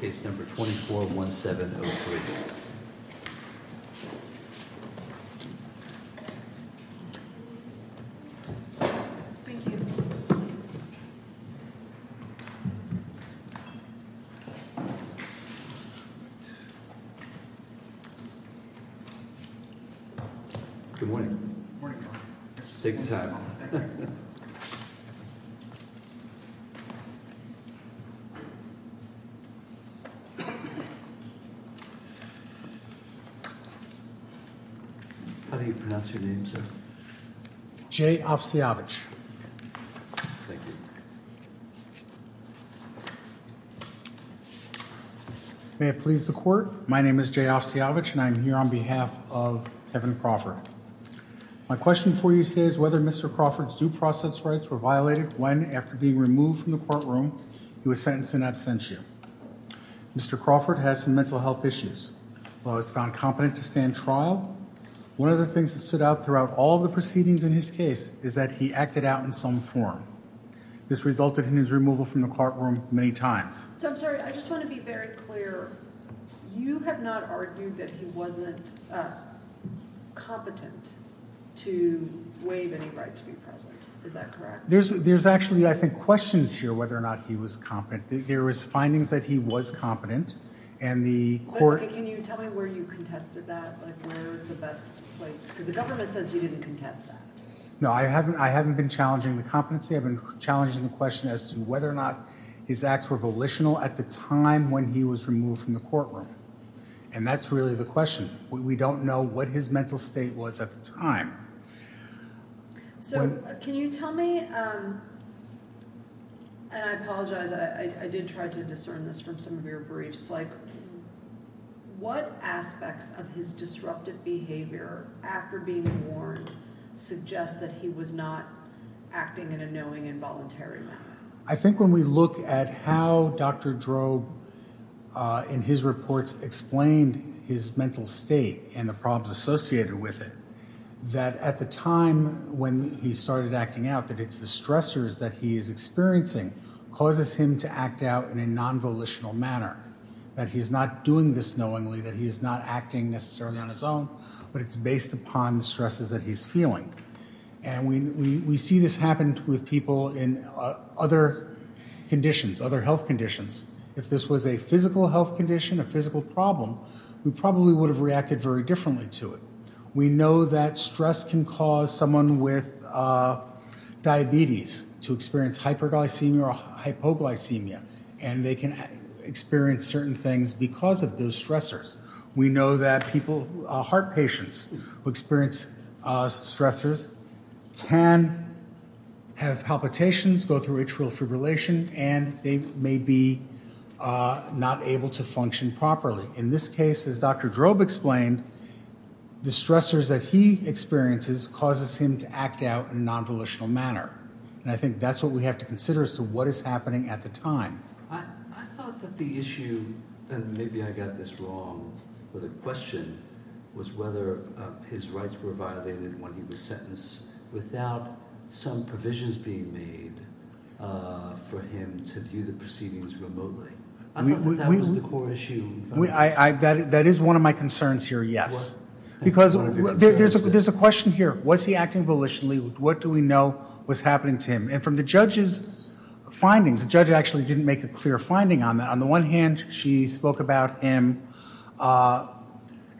case number 241703. Thank you. Good morning. Morning. Take your time. How do you pronounce your name, sir? Jay Ofsiavich. Thank you. May it please the court, my name is Jay Ofsiavich and I'm here on behalf of Kevin Crawford. My question for you today is whether Mr. Crawford's due process rights were violated when, after being removed from the courtroom, he was sentenced in absentia. Mr. Crawford has some mental health issues. While he was found competent to stand trial, one of the things that stood out throughout all of the proceedings in his case is that he acted out in some form. This resulted in his removal from the courtroom many times. So I'm sorry, I just want to be very clear, you have not argued that he wasn't competent to waive any right to be present, is that correct? There's actually, I think, questions here whether or not he was competent. There was findings that he was competent and the court- Can you tell me where you contested that, like where was the best place, because the government says you didn't contest that. No, I haven't been challenging the competency, I've been challenging the question as to whether or not his acts were volitional at the time when he was removed from the courtroom. And that's really the question. We don't know what his mental state was at the time. So can you tell me, and I apologize, I did try to discern this from some of your briefs, what aspects of his disruptive behavior after being warned suggest that he was not acting in a knowing and voluntary manner? I think when we look at how Dr. Drobe, in his reports, explained his mental state and the problems associated with it, that at the time when he started acting out, that it's the stressors that he is experiencing causes him to act out in a non-volitional manner. That he's not doing this knowingly, that he's not acting necessarily on his own, but it's based upon the stresses that he's feeling. And we see this happen with people in other conditions, other health conditions. If this was a physical health condition, a physical problem, we probably would have reacted very differently to it. We know that stress can cause someone with diabetes to experience hyperglycemia or hypoglycemia, and they can experience certain things because of those stressors. We know that people, heart patients, who experience stressors can have palpitations, go through atrial fibrillation, and they may be not able to function properly. In this case, as Dr. Drobe explained, the stressors that he experiences causes him to act out in a non-volitional manner, and I think that's what we have to consider as to what is happening at the time. I thought that the issue, and maybe I got this wrong, but the question was whether his rights were violated when he was sentenced without some provisions being made for him to view the proceedings remotely. I thought that was the core issue. That is one of my concerns here, yes. Because there's a question here, was he acting volitionally? What do we know was happening to him? From the judge's findings, the judge actually didn't make a clear finding on that. On the one hand, she spoke about him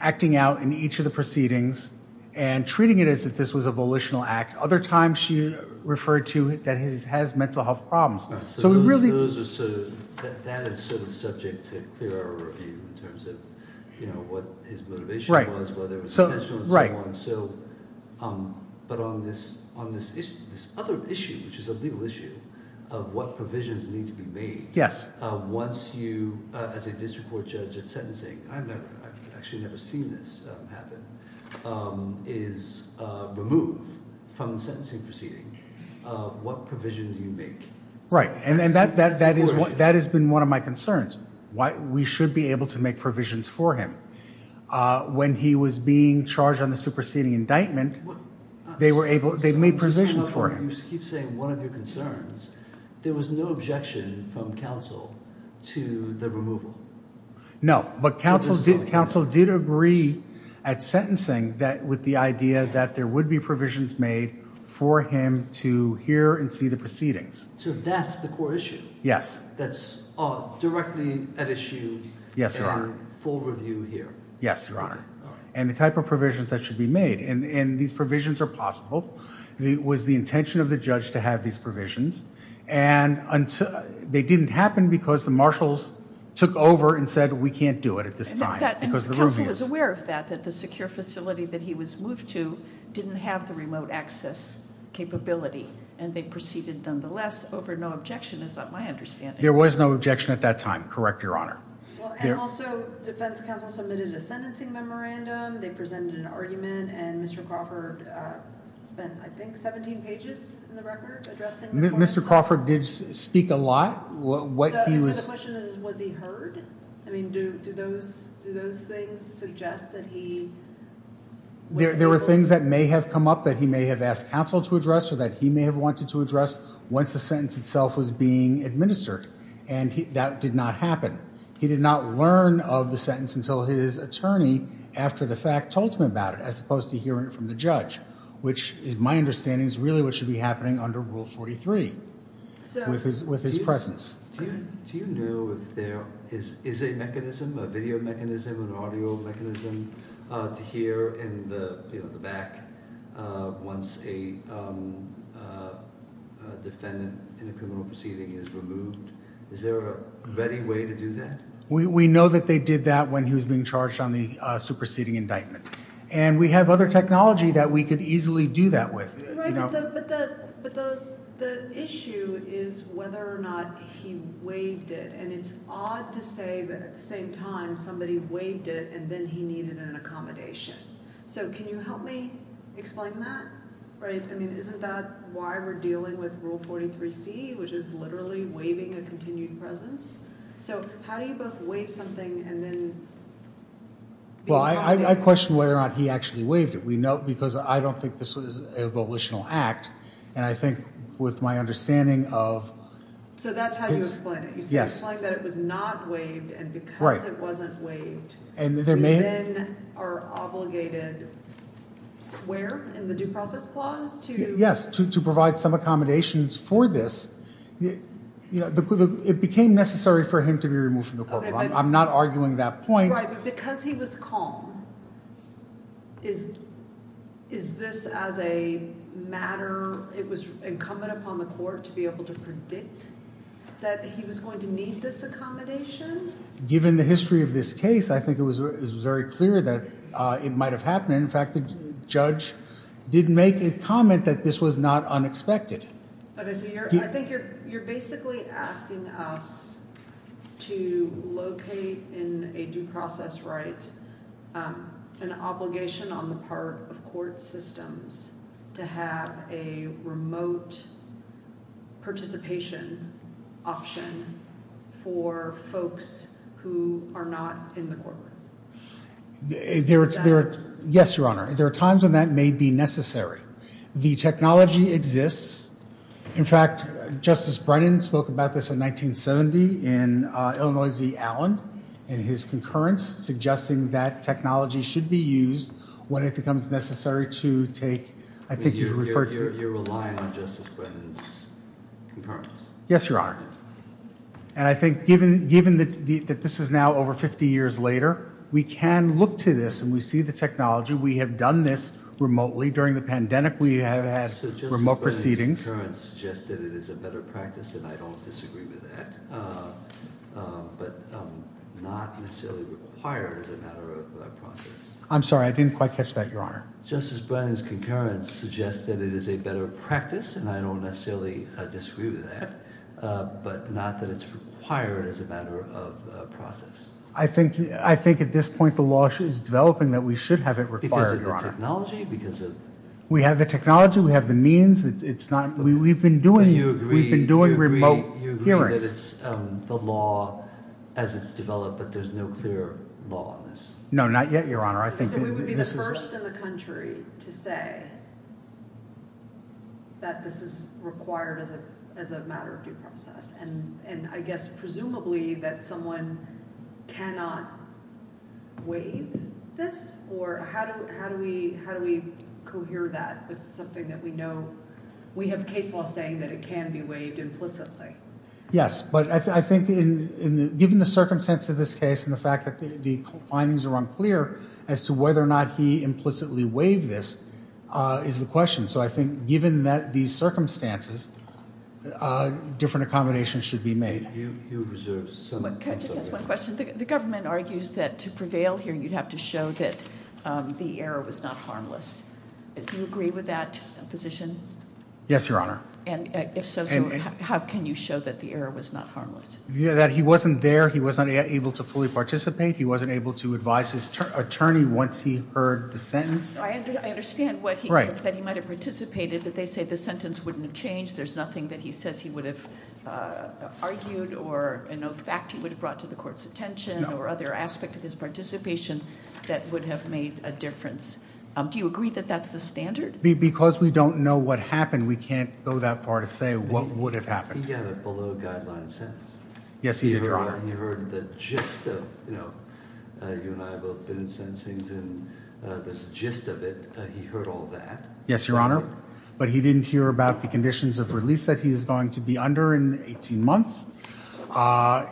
acting out in each of the proceedings and treating it as if this was a volitional act. Other times, she referred to that he has mental health problems. So we really... Those are sort of... That is sort of subject to clear our review in terms of what his motivation was, whether it was intentional and so on. So, but on this other issue, which is a legal issue of what provisions need to be made, once you, as a district court judge of sentencing, I've actually never seen this happen, is removed from the sentencing proceeding, what provision do you make? Right. And that has been one of my concerns. We should be able to make provisions for him. When he was being charged on the superseding indictment, they were able... They made provisions for him. You just keep saying one of your concerns, there was no objection from counsel to the removal. No, but counsel did agree at sentencing that with the idea that there would be provisions made for him to hear and see the proceedings. So that's the core issue? Yes. That's directly at issue in the full review here? Yes, your honor. And the type of provisions that should be made, and these provisions are possible, it was the intention of the judge to have these provisions, and they didn't happen because the marshals took over and said, we can't do it at this time because the room is... And the counsel was aware of that, that the secure facility that he was moved to didn't have the remote access capability, and they proceeded nonetheless over no objection, is that my understanding? There was no objection at that time, correct, your honor. And also, defense counsel submitted a sentencing memorandum, they presented an argument, and Mr. Crawford spent, I think, 17 pages in the record addressing the court... Mr. Crawford did speak a lot. What he was... So the question is, was he heard? I mean, do those things suggest that he... There were things that may have come up that he may have asked counsel to address or that he may have wanted to address once the sentence itself was being administered, and that did not happen. He did not learn of the sentence until his attorney, after the fact, told him about it, as opposed to hearing it from the judge, which is, my understanding, is really what should be happening under Rule 43 with his presence. Do you know if there is a mechanism, a video mechanism, an audio mechanism to hear in the back once a defendant in a criminal proceeding is removed? Is there a ready way to do that? We know that they did that when he was being charged on the superseding indictment, and we have other technology that we could easily do that with. Right, but the issue is whether or not he waived it, and it's odd to say that at the same time, somebody waived it, and then he needed an accommodation. So, can you help me explain that? I mean, isn't that why we're dealing with Rule 43C, which is literally waiving a continued presence? So, how do you both waive something and then... Well, I question whether or not he actually waived it. We know because I don't think this was a volitional act, and I think with my understanding of... So, that's how you explain it. You say that it was not waived, and because it wasn't waived... We then are obligated where in the Due Process Clause to... Yes, to provide some accommodations for this. It became necessary for him to be removed from the courtroom. I'm not arguing that point. Right, but because he was calm, is this as a matter... It was incumbent upon the court to be able to predict that he was going to need this Given the history of this case, I think it was very clear that it might have happened. In fact, the judge did make a comment that this was not unexpected. I think you're basically asking us to locate in a due process right an obligation on the who are not in the courtroom. Yes, Your Honor. There are times when that may be necessary. The technology exists. In fact, Justice Brennan spoke about this in 1970 in Illinois v. Allen and his concurrence suggesting that technology should be used when it becomes necessary to take... You're relying on Justice Brennan's concurrence. Yes, Your Honor. And I think given that this is now over 50 years later, we can look to this and we see the technology. We have done this remotely during the pandemic. We have had remote proceedings. So Justice Brennan's concurrence suggested it is a better practice and I don't disagree with that. But not necessarily required as a matter of process. I'm sorry, I didn't quite catch that, Your Honor. Justice Brennan's concurrence suggested it is a better practice and I don't necessarily disagree with that. But not that it's required as a matter of process. I think at this point the law is developing that we should have it required, Your Honor. Because of the technology? We have the technology, we have the means. We've been doing remote hearings. You agree that it's the law as it's developed but there's no clear law on this? No, not yet, Your Honor. So we would be the first in the country to say that this is required as a matter of due process. And I guess presumably that someone cannot waive this? Or how do we cohere that with something that we know? We have case law saying that it can be waived implicitly. Yes, but I think given the circumstance of this case and the fact that the findings are unclear as to whether or not he implicitly waived this, is the question. So I think given these circumstances, different accommodations should be made. You've reserved some time. Can I just ask one question? The government argues that to prevail here you'd have to show that the error was not harmless. Do you agree with that position? Yes, Your Honor. And if so, how can you show that the error was not harmless? That he wasn't there, he wasn't able to fully participate, he wasn't able to advise his attorney once he heard the sentence? I understand that he might have participated, but they say the sentence wouldn't have changed, there's nothing that he says he would have argued or no fact he would have brought to the court's attention or other aspect of his participation that would have made a difference. Do you agree that that's the standard? Because we don't know what happened, we can't go that far to say what would have happened. He got a below-guideline sentence. Yes, he did, Your Honor. He heard the gist of, you know, you and I have both been in sentencings, and this gist of it, he heard all that. Yes, Your Honor. But he didn't hear about the conditions of release that he is going to be under in 18 months.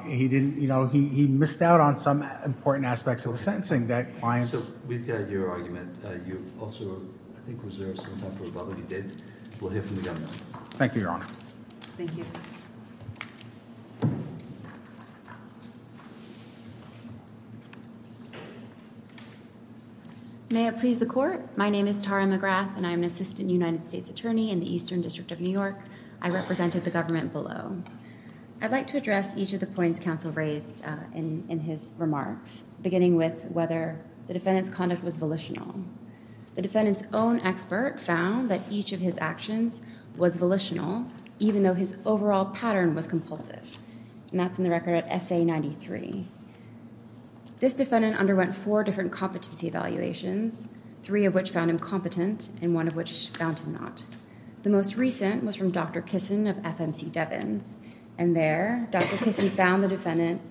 He missed out on some important aspects of the sentencing that clients... So we've got your argument. You also, I think, reserved some time for the public. If you did, we'll hear from the government. Thank you, Your Honor. Thank you. May it please the Court. My name is Tara McGrath, and I am an Assistant United States Attorney in the Eastern District of New York. I represented the government below. I'd like to address each of the points counsel raised in his remarks, beginning with whether the defendant's conduct was volitional. The defendant's own expert found that each of his actions was volitional, even though his overall pattern was compulsive. And that's in the record at S.A. 93. This defendant underwent four different competency evaluations, three of which found him competent, and one of which found him not. The most recent was from Dr. Kissin of FMC Devins. And there, Dr. Kissin found the defendant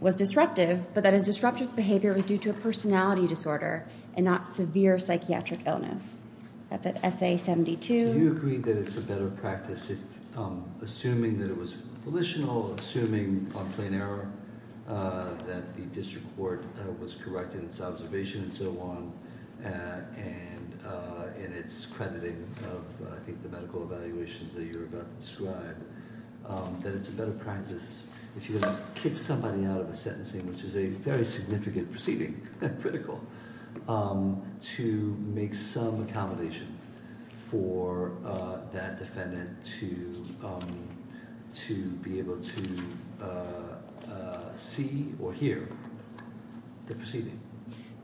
was disruptive, but that his disruptive behavior was due to a personality disorder and not severe psychiatric illness. That's at S.A. 72. Do you agree that it's a better practice, assuming that it was volitional, assuming on plain error that the district court was correct in its observation and so on, and in its crediting of, I think, the medical evaluations that you were about to describe, that it's a better practice if you're going to kick somebody out of a sentencing, which is a very significant proceeding and critical, to make some accommodation for that defendant to be able to see or hear the proceeding?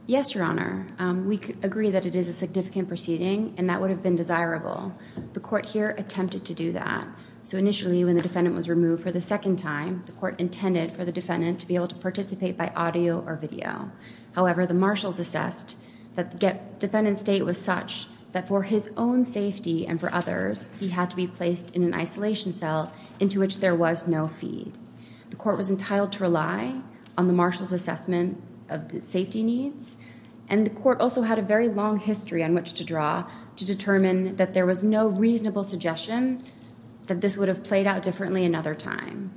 Yes, Your Honor. We agree that it is a significant proceeding, and that would have been desirable. The court here attempted to do that. So initially, when the defendant was removed for the second time, the court intended for the defendant to be able to participate by audio or video. However, the marshals assessed that the defendant's state was such that for his own safety and for others, he had to be placed in an isolation cell into which there was no feed. The court was entitled to rely on the marshal's assessment of the safety needs, and the court also had a very long history on which to draw to determine that there was no reasonable suggestion that this would have played out differently another time.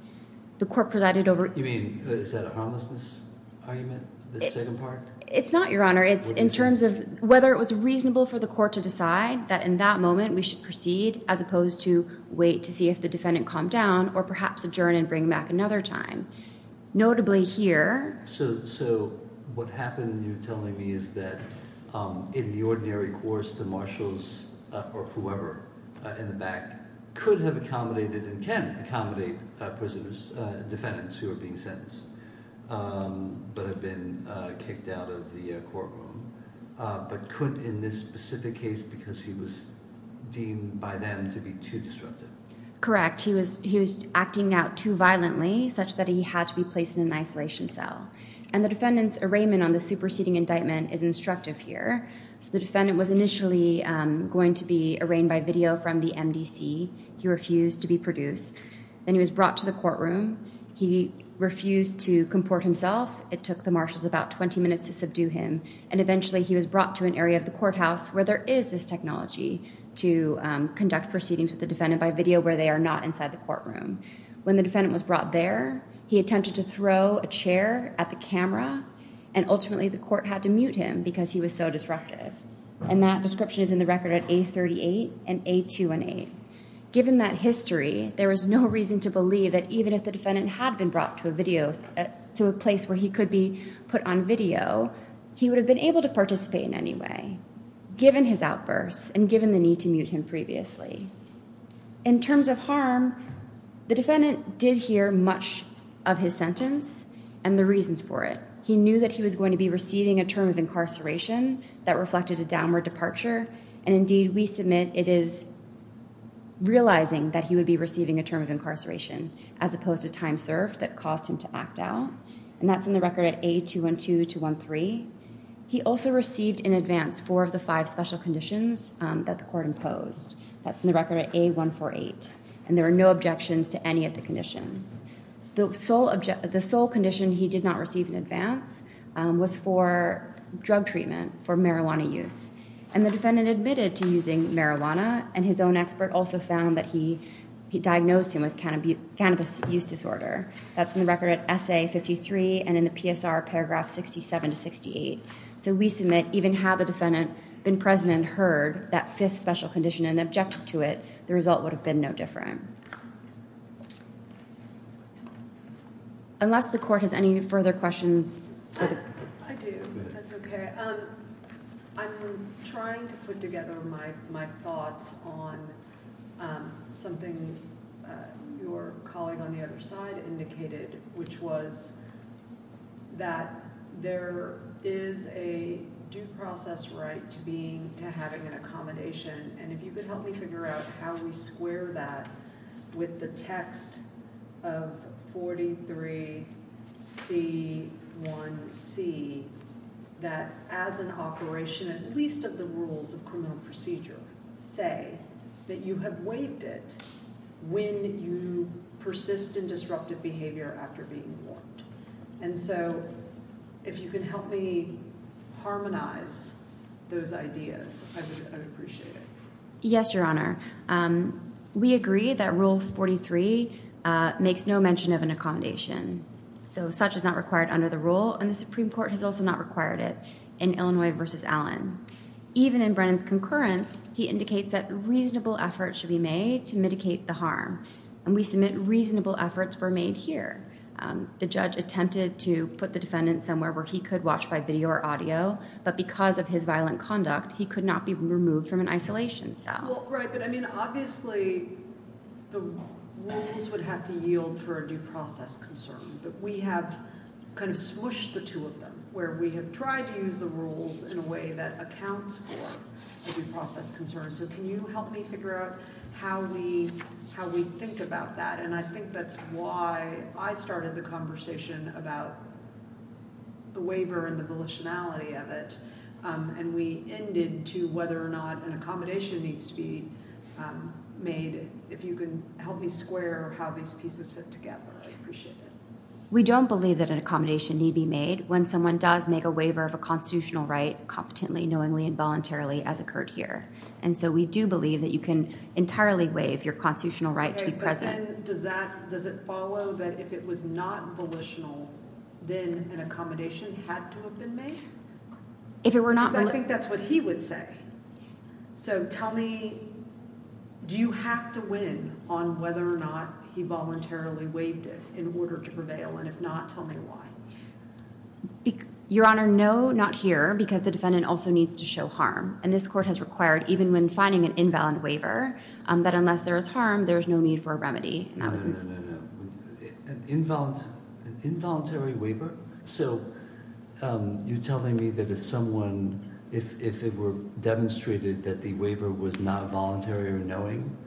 You mean, is that a harmlessness argument, this second part? It's not, Your Honor. It's in terms of whether it was reasonable for the court to decide that in that moment we should proceed, as opposed to wait to see if the defendant calmed down, or perhaps adjourn and bring back another time. Notably here... So what happened, you're telling me, is that in the ordinary course, the marshals or whoever in the back could have accommodated and can accommodate defendants who are being sentenced, but have been kicked out of the courtroom, but could in this specific case, because he was deemed by them to be too disruptive? Correct. He was acting out too violently, such that he had to be placed in an isolation cell. And the defendant's arraignment on the superseding indictment is instructive here. So the defendant was initially going to be arraigned by video from the MDC. He refused to be produced. Then he was brought to the courtroom. He refused to comport himself. It took the marshals about 20 minutes to subdue him, and eventually he was brought to an area of the courthouse where there is this technology to conduct proceedings with the defendant by video where they are not inside the courtroom. When the defendant was brought there, he attempted to throw a chair at the camera, and ultimately the court had to mute him because he was so disruptive. And that description is in the record at A38 and A218. Given that history, there is no reason to believe that even if the defendant had been brought to a place where he could be put on video, he would have been able to participate in any way, given his outbursts and given the need to mute him previously. In terms of harm, the defendant did hear much of his sentence and the reasons for it. He knew that he was going to be receiving a term of incarceration that reflected a downward departure. And indeed, we submit it is realizing that he would be receiving a term of incarceration as opposed to time served that caused him to act out. And that's in the record at A212 to A213. He also received in advance four of the five special conditions that the court imposed. That's in the record at A148. And there were no objections to any of the conditions. The sole condition he did not receive in advance was for drug treatment, for marijuana use. And the defendant admitted to using marijuana, and his own expert also found that he diagnosed him with cannabis abuse disorder. That's in the record at SA53 and in the PSR paragraph 67 to 68. So we submit even had the defendant been present and heard that fifth special condition and objected to it, the result would have been no different. Unless the court has any further questions. I do. That's okay. I'm trying to put together my thoughts on something your colleague on the other side indicated, which was that there is a due process right to having an accommodation. And if you could help me figure out how we square that with the text of 43C1C, that as an operation, at least of the rules of criminal procedure, say that you have waived it when you persist in disruptive behavior after being warned. And so if you could help me harmonize those ideas, I would appreciate it. Yes, Your Honor. We agree that Rule 43 makes no mention of an accommodation. So such is not required under the rule, and the Supreme Court has also not required it in Illinois v. Allen. Even in Brennan's concurrence, he indicates that reasonable efforts should be made to mitigate the harm. And we submit reasonable efforts were made here. The judge attempted to put the defendant somewhere where he could watch by video or audio, but because of his violent conduct, he could not be removed from an isolation cell. Right, but I mean, obviously, the rules would have to yield for a due process concern. But we have kind of smooshed the two of them, where we have tried to use the rules in a way that accounts for a due process concern. So can you help me figure out how we think about that? And I think that's why I started the conversation about the waiver and the volitionality of it, and we ended to whether or not an accommodation needs to be made. If you can help me square how these pieces fit together, I'd appreciate it. We don't believe that an accommodation need be made when someone does make a waiver of a constitutional right, competently, knowingly, and voluntarily, as occurred here. And so we do believe that you can entirely waive your constitutional right to be present. Okay, but then does it follow that if it was not volitional, then an accommodation had to have been made? If it were not volitional... Because I think that's what he would say. So tell me, do you have to win on whether or not he voluntarily waived it in order to prevail? And if not, tell me why. Your Honor, no, not here, because the defendant also needs to show harm. And this Court has required, even when finding an invalid waiver, that unless there is harm, there is no need for a remedy. No, no, no, no, no. An involuntary waiver? So you're telling me that if someone, if it were demonstrated that the waiver was not voluntary or knowing,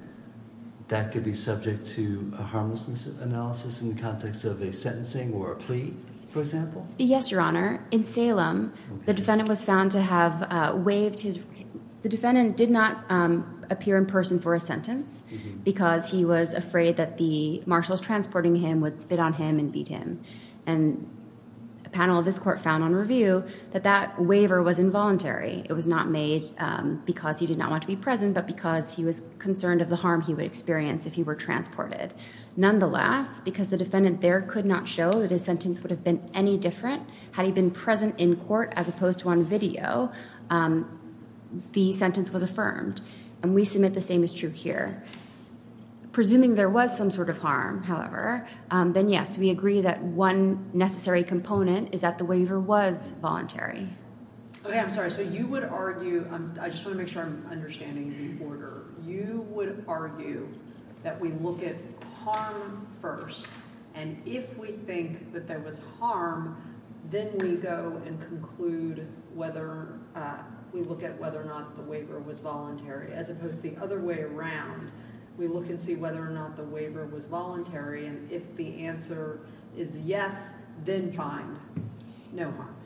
that could be subject to a harmlessness analysis in the context of a sentencing or a plea, for example? Yes, Your Honor. In Salem, the defendant was found to have waived his... The defendant did not appear in person for a sentence because he was afraid that the marshals transporting him would spit on him and beat him. And a panel of this Court found on review that that waiver was involuntary. It was not made because he did not want to be present, but because he was concerned of the harm he would experience if he were transported. Nonetheless, because the defendant there could not show that his sentence would have been any different had he been present in court as opposed to on video, the sentence was affirmed. And we submit the same is true here. Presuming there was some sort of harm, however, then yes, we agree that one necessary component is that the waiver was voluntary. Okay, I'm sorry. So you would argue... I just want to make sure I'm understanding the order. You would argue that we look at harm first, and if we think that there was harm, then we go and conclude whether... We look at whether or not the waiver was voluntary, as opposed to the other way around. We look and see whether or not the waiver was voluntary, and if the answer is yes, then fine. No harm.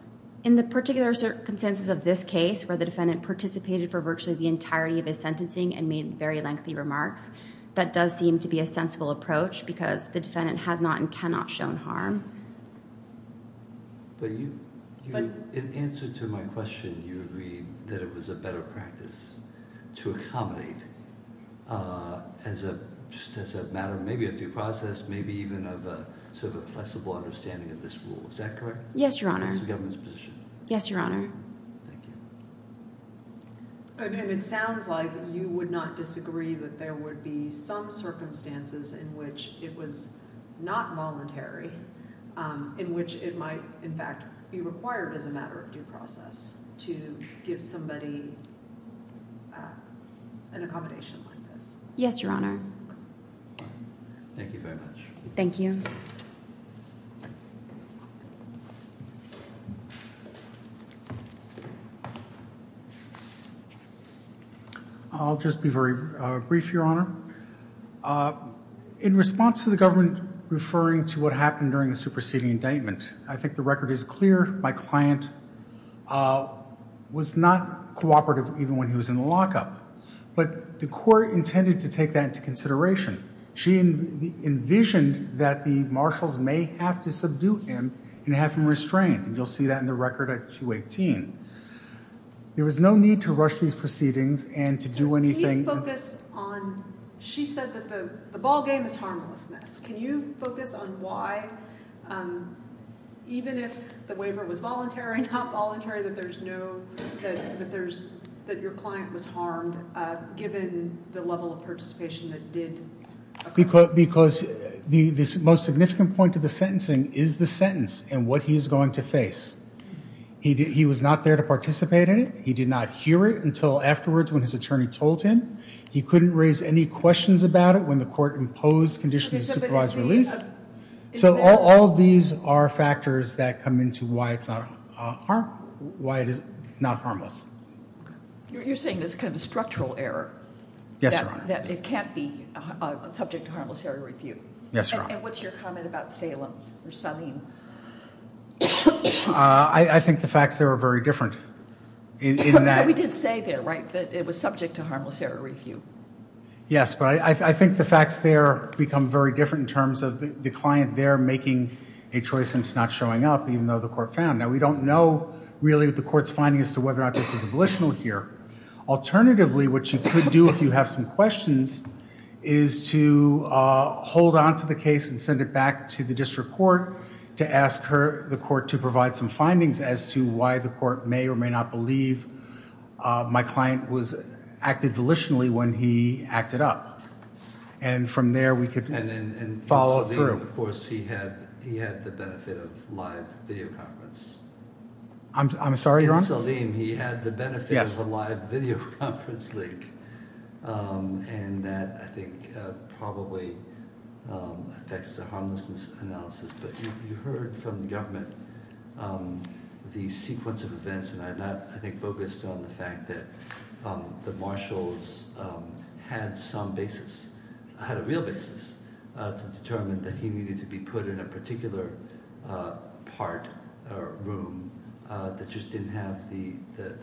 In the particular circumstances of this case, where the defendant participated for virtually the entirety of his sentencing and made very lengthy remarks, that does seem to be a sensible approach because the defendant has not and cannot shown harm. But you... In answer to my question, you agreed that it was a better practice to accommodate, just as a matter of maybe a due process, maybe even of sort of a flexible understanding of this rule. Is that correct? Yes, Your Honor. Yes, Your Honor. And it sounds like you would not disagree that there would be some circumstances in which it was not voluntary, in which it might, in fact, be required as a matter of due process to give somebody an accommodation like this. Yes, Your Honor. Thank you very much. Thank you. I'll just be very brief, Your Honor. In response to the government referring to what happened during the superseding indictment, I think the record is clear. My client was not cooperative even when he was in the lock-up. But the court intended to take that into consideration. She envisioned that the marshals may have to subdue him and have him restrained. And you'll see that in the record at 218. There was no need to rush these proceedings and to do anything... Can you focus on... The whole game is harmlessness. Can you focus on why, even if the waiver was voluntary or not voluntary, that there's no... that your client was harmed, given the level of participation that did occur? Because the most significant point of the sentencing is the sentence and what he is going to face. He was not there to participate in it. He did not hear it until afterwards when his attorney told him. He couldn't raise any questions about it when the court imposed conditions of supervised release. So all these are factors that come into why it's not harm... why it is not harmless. You're saying there's kind of a structural error... Yes, Your Honor. ...that it can't be subject to harmless area review. Yes, Your Honor. And what's your comment about Salem or Saleem? I think the facts there are very different. We did say there, right, that it was subject to harmless area review. Yes, but I think the facts there become very different in terms of the client there making a choice into not showing up, even though the court found. Now, we don't know, really, the court's findings as to whether or not this is abolitional here. Alternatively, what you could do, if you have some questions, is to hold on to the case and send it back to the district court to ask the court to provide some findings as to why the court may or may not believe my client acted volitionally when he acted up. And from there, we could follow through. And in Saleem, of course, he had the benefit of live videoconference. I'm sorry, Your Honor? In Saleem, he had the benefit of a live videoconference link. And that, I think, probably affects the harmlessness analysis. But you heard from the government the sequence of events, and I'm not, I think, focused on the fact that the marshals had some basis, had a real basis, to determine that he needed to be put in a particular part, that just didn't have the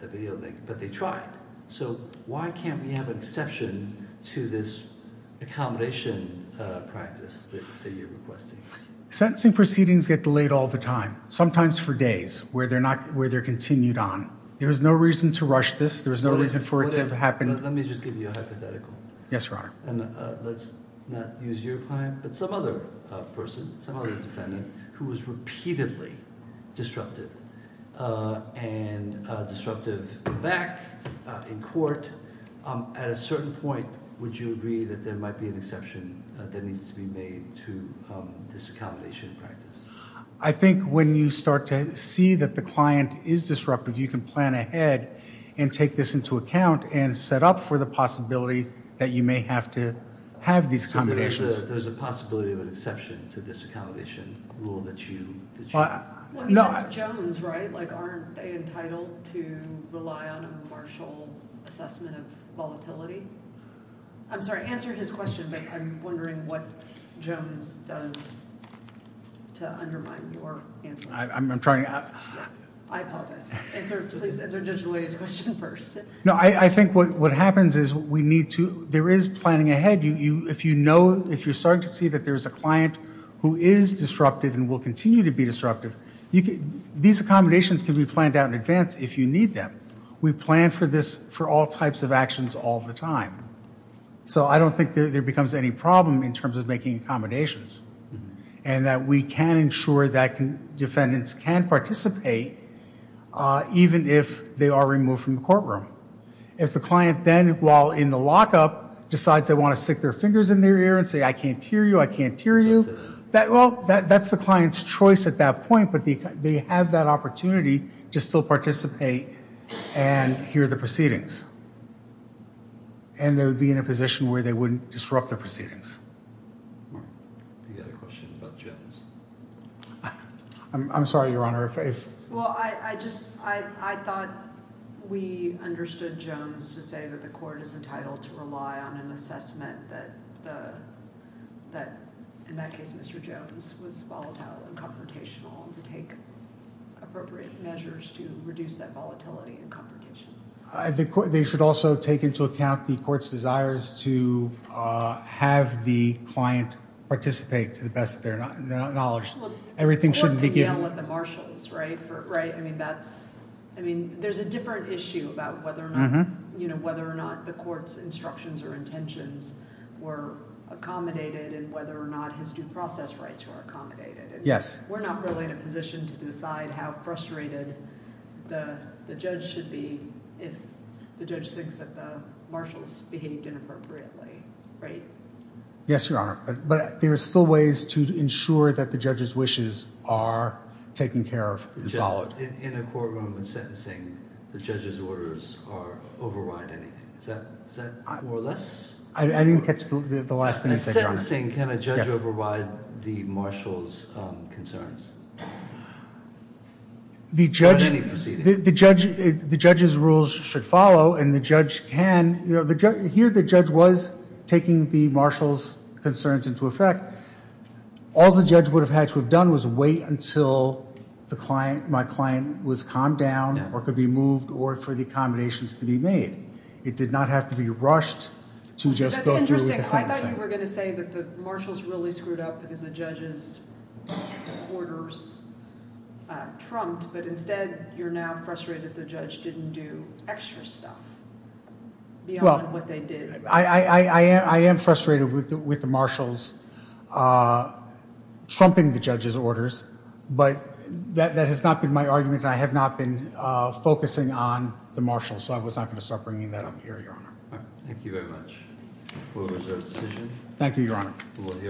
video link. But they tried. So why can't we have an exception to this accommodation practice that you're requesting? Sentencing proceedings get delayed all the time, sometimes for days, where they're continued on. There's no reason to rush this. There's no reason for it to happen. Let me just give you a hypothetical. Yes, Your Honor. Let's not use your client, but some other person, some other defendant, who was repeatedly disruptive and disruptive back in court. At a certain point, would you agree that there might be an exception that needs to be made to this accommodation practice? I think when you start to see that the client is disruptive, you can plan ahead and take this into account and set up for the possibility that you may have to have these accommodations. So there's a possibility of an exception to this accommodation rule that you... Well, he says Jones, right? Like, aren't they entitled to rely on a marshal assessment of volatility? I'm sorry, answer his question, but I'm wondering what Jones does to undermine your answer. I'm trying to... I apologize. Please answer Judge Loya's question first. No, I think what happens is we need to... there is planning ahead. If you know, if you're starting to see that there's a client who is disruptive and will continue to be disruptive, these accommodations can be planned out in advance if you need them. We plan for this, for all types of actions all the time. So I don't think there becomes any problem in terms of making accommodations. And that we can ensure that defendants can participate even if they are removed from the courtroom. If the client then, while in the lock-up, decides they want to stick their fingers in their ear and say, I can't hear you, I can't hear you, well, that's the client's choice at that point, but they have that opportunity to still participate and hear the proceedings. And they would be in a position where they wouldn't disrupt the proceedings. Do you have a question about Jones? I'm sorry, Your Honor, if... Well, I just... I thought we understood Jones to say that the court is entitled to rely on an assessment that the... that in that case, Mr. Jones was volatile and confrontational to take appropriate measures to reduce that volatility and confrontation. They should also take into account the court's desires to have the client participate to the best of their knowledge. Everything shouldn't be given... Well, the court can yell at the marshals, right? I mean, that's... I mean, there's a different issue about whether or not the court's instructions or intentions were accommodated and whether or not his due process rights were accommodated. Yes. We're not really in a position to decide how frustrated the judge should be if the judge thinks that the marshals behaved inappropriately, right? Yes, Your Honor. But there are still ways to ensure that the judge's wishes are taken care of and followed. In a courtroom with sentencing, the judge's orders are... override anything. Is that more or less... I didn't catch the last thing you said, Your Honor. In a sentencing, can a judge override the marshals' concerns? The judge... On any proceedings. The judge's rules should follow and the judge can... Here, the judge was taking the marshals' concerns into effect. All the judge would have had to have done was wait until my client was calmed down or could be moved or for the accommodations to be made. It did not have to be rushed to just go through with the sentencing. That's interesting. I thought you were going to say that the marshals really screwed up because the judge's orders were trumped, but instead you're now frustrated the judge didn't do extra stuff beyond what they did. I am frustrated with the marshals trumping the judge's orders, but that has not been my argument and I have not been focusing on the marshals, so I was not going to start bringing that up here, Your Honor. Thank you very much. We'll reserve the decision. Thank you, Your Honor.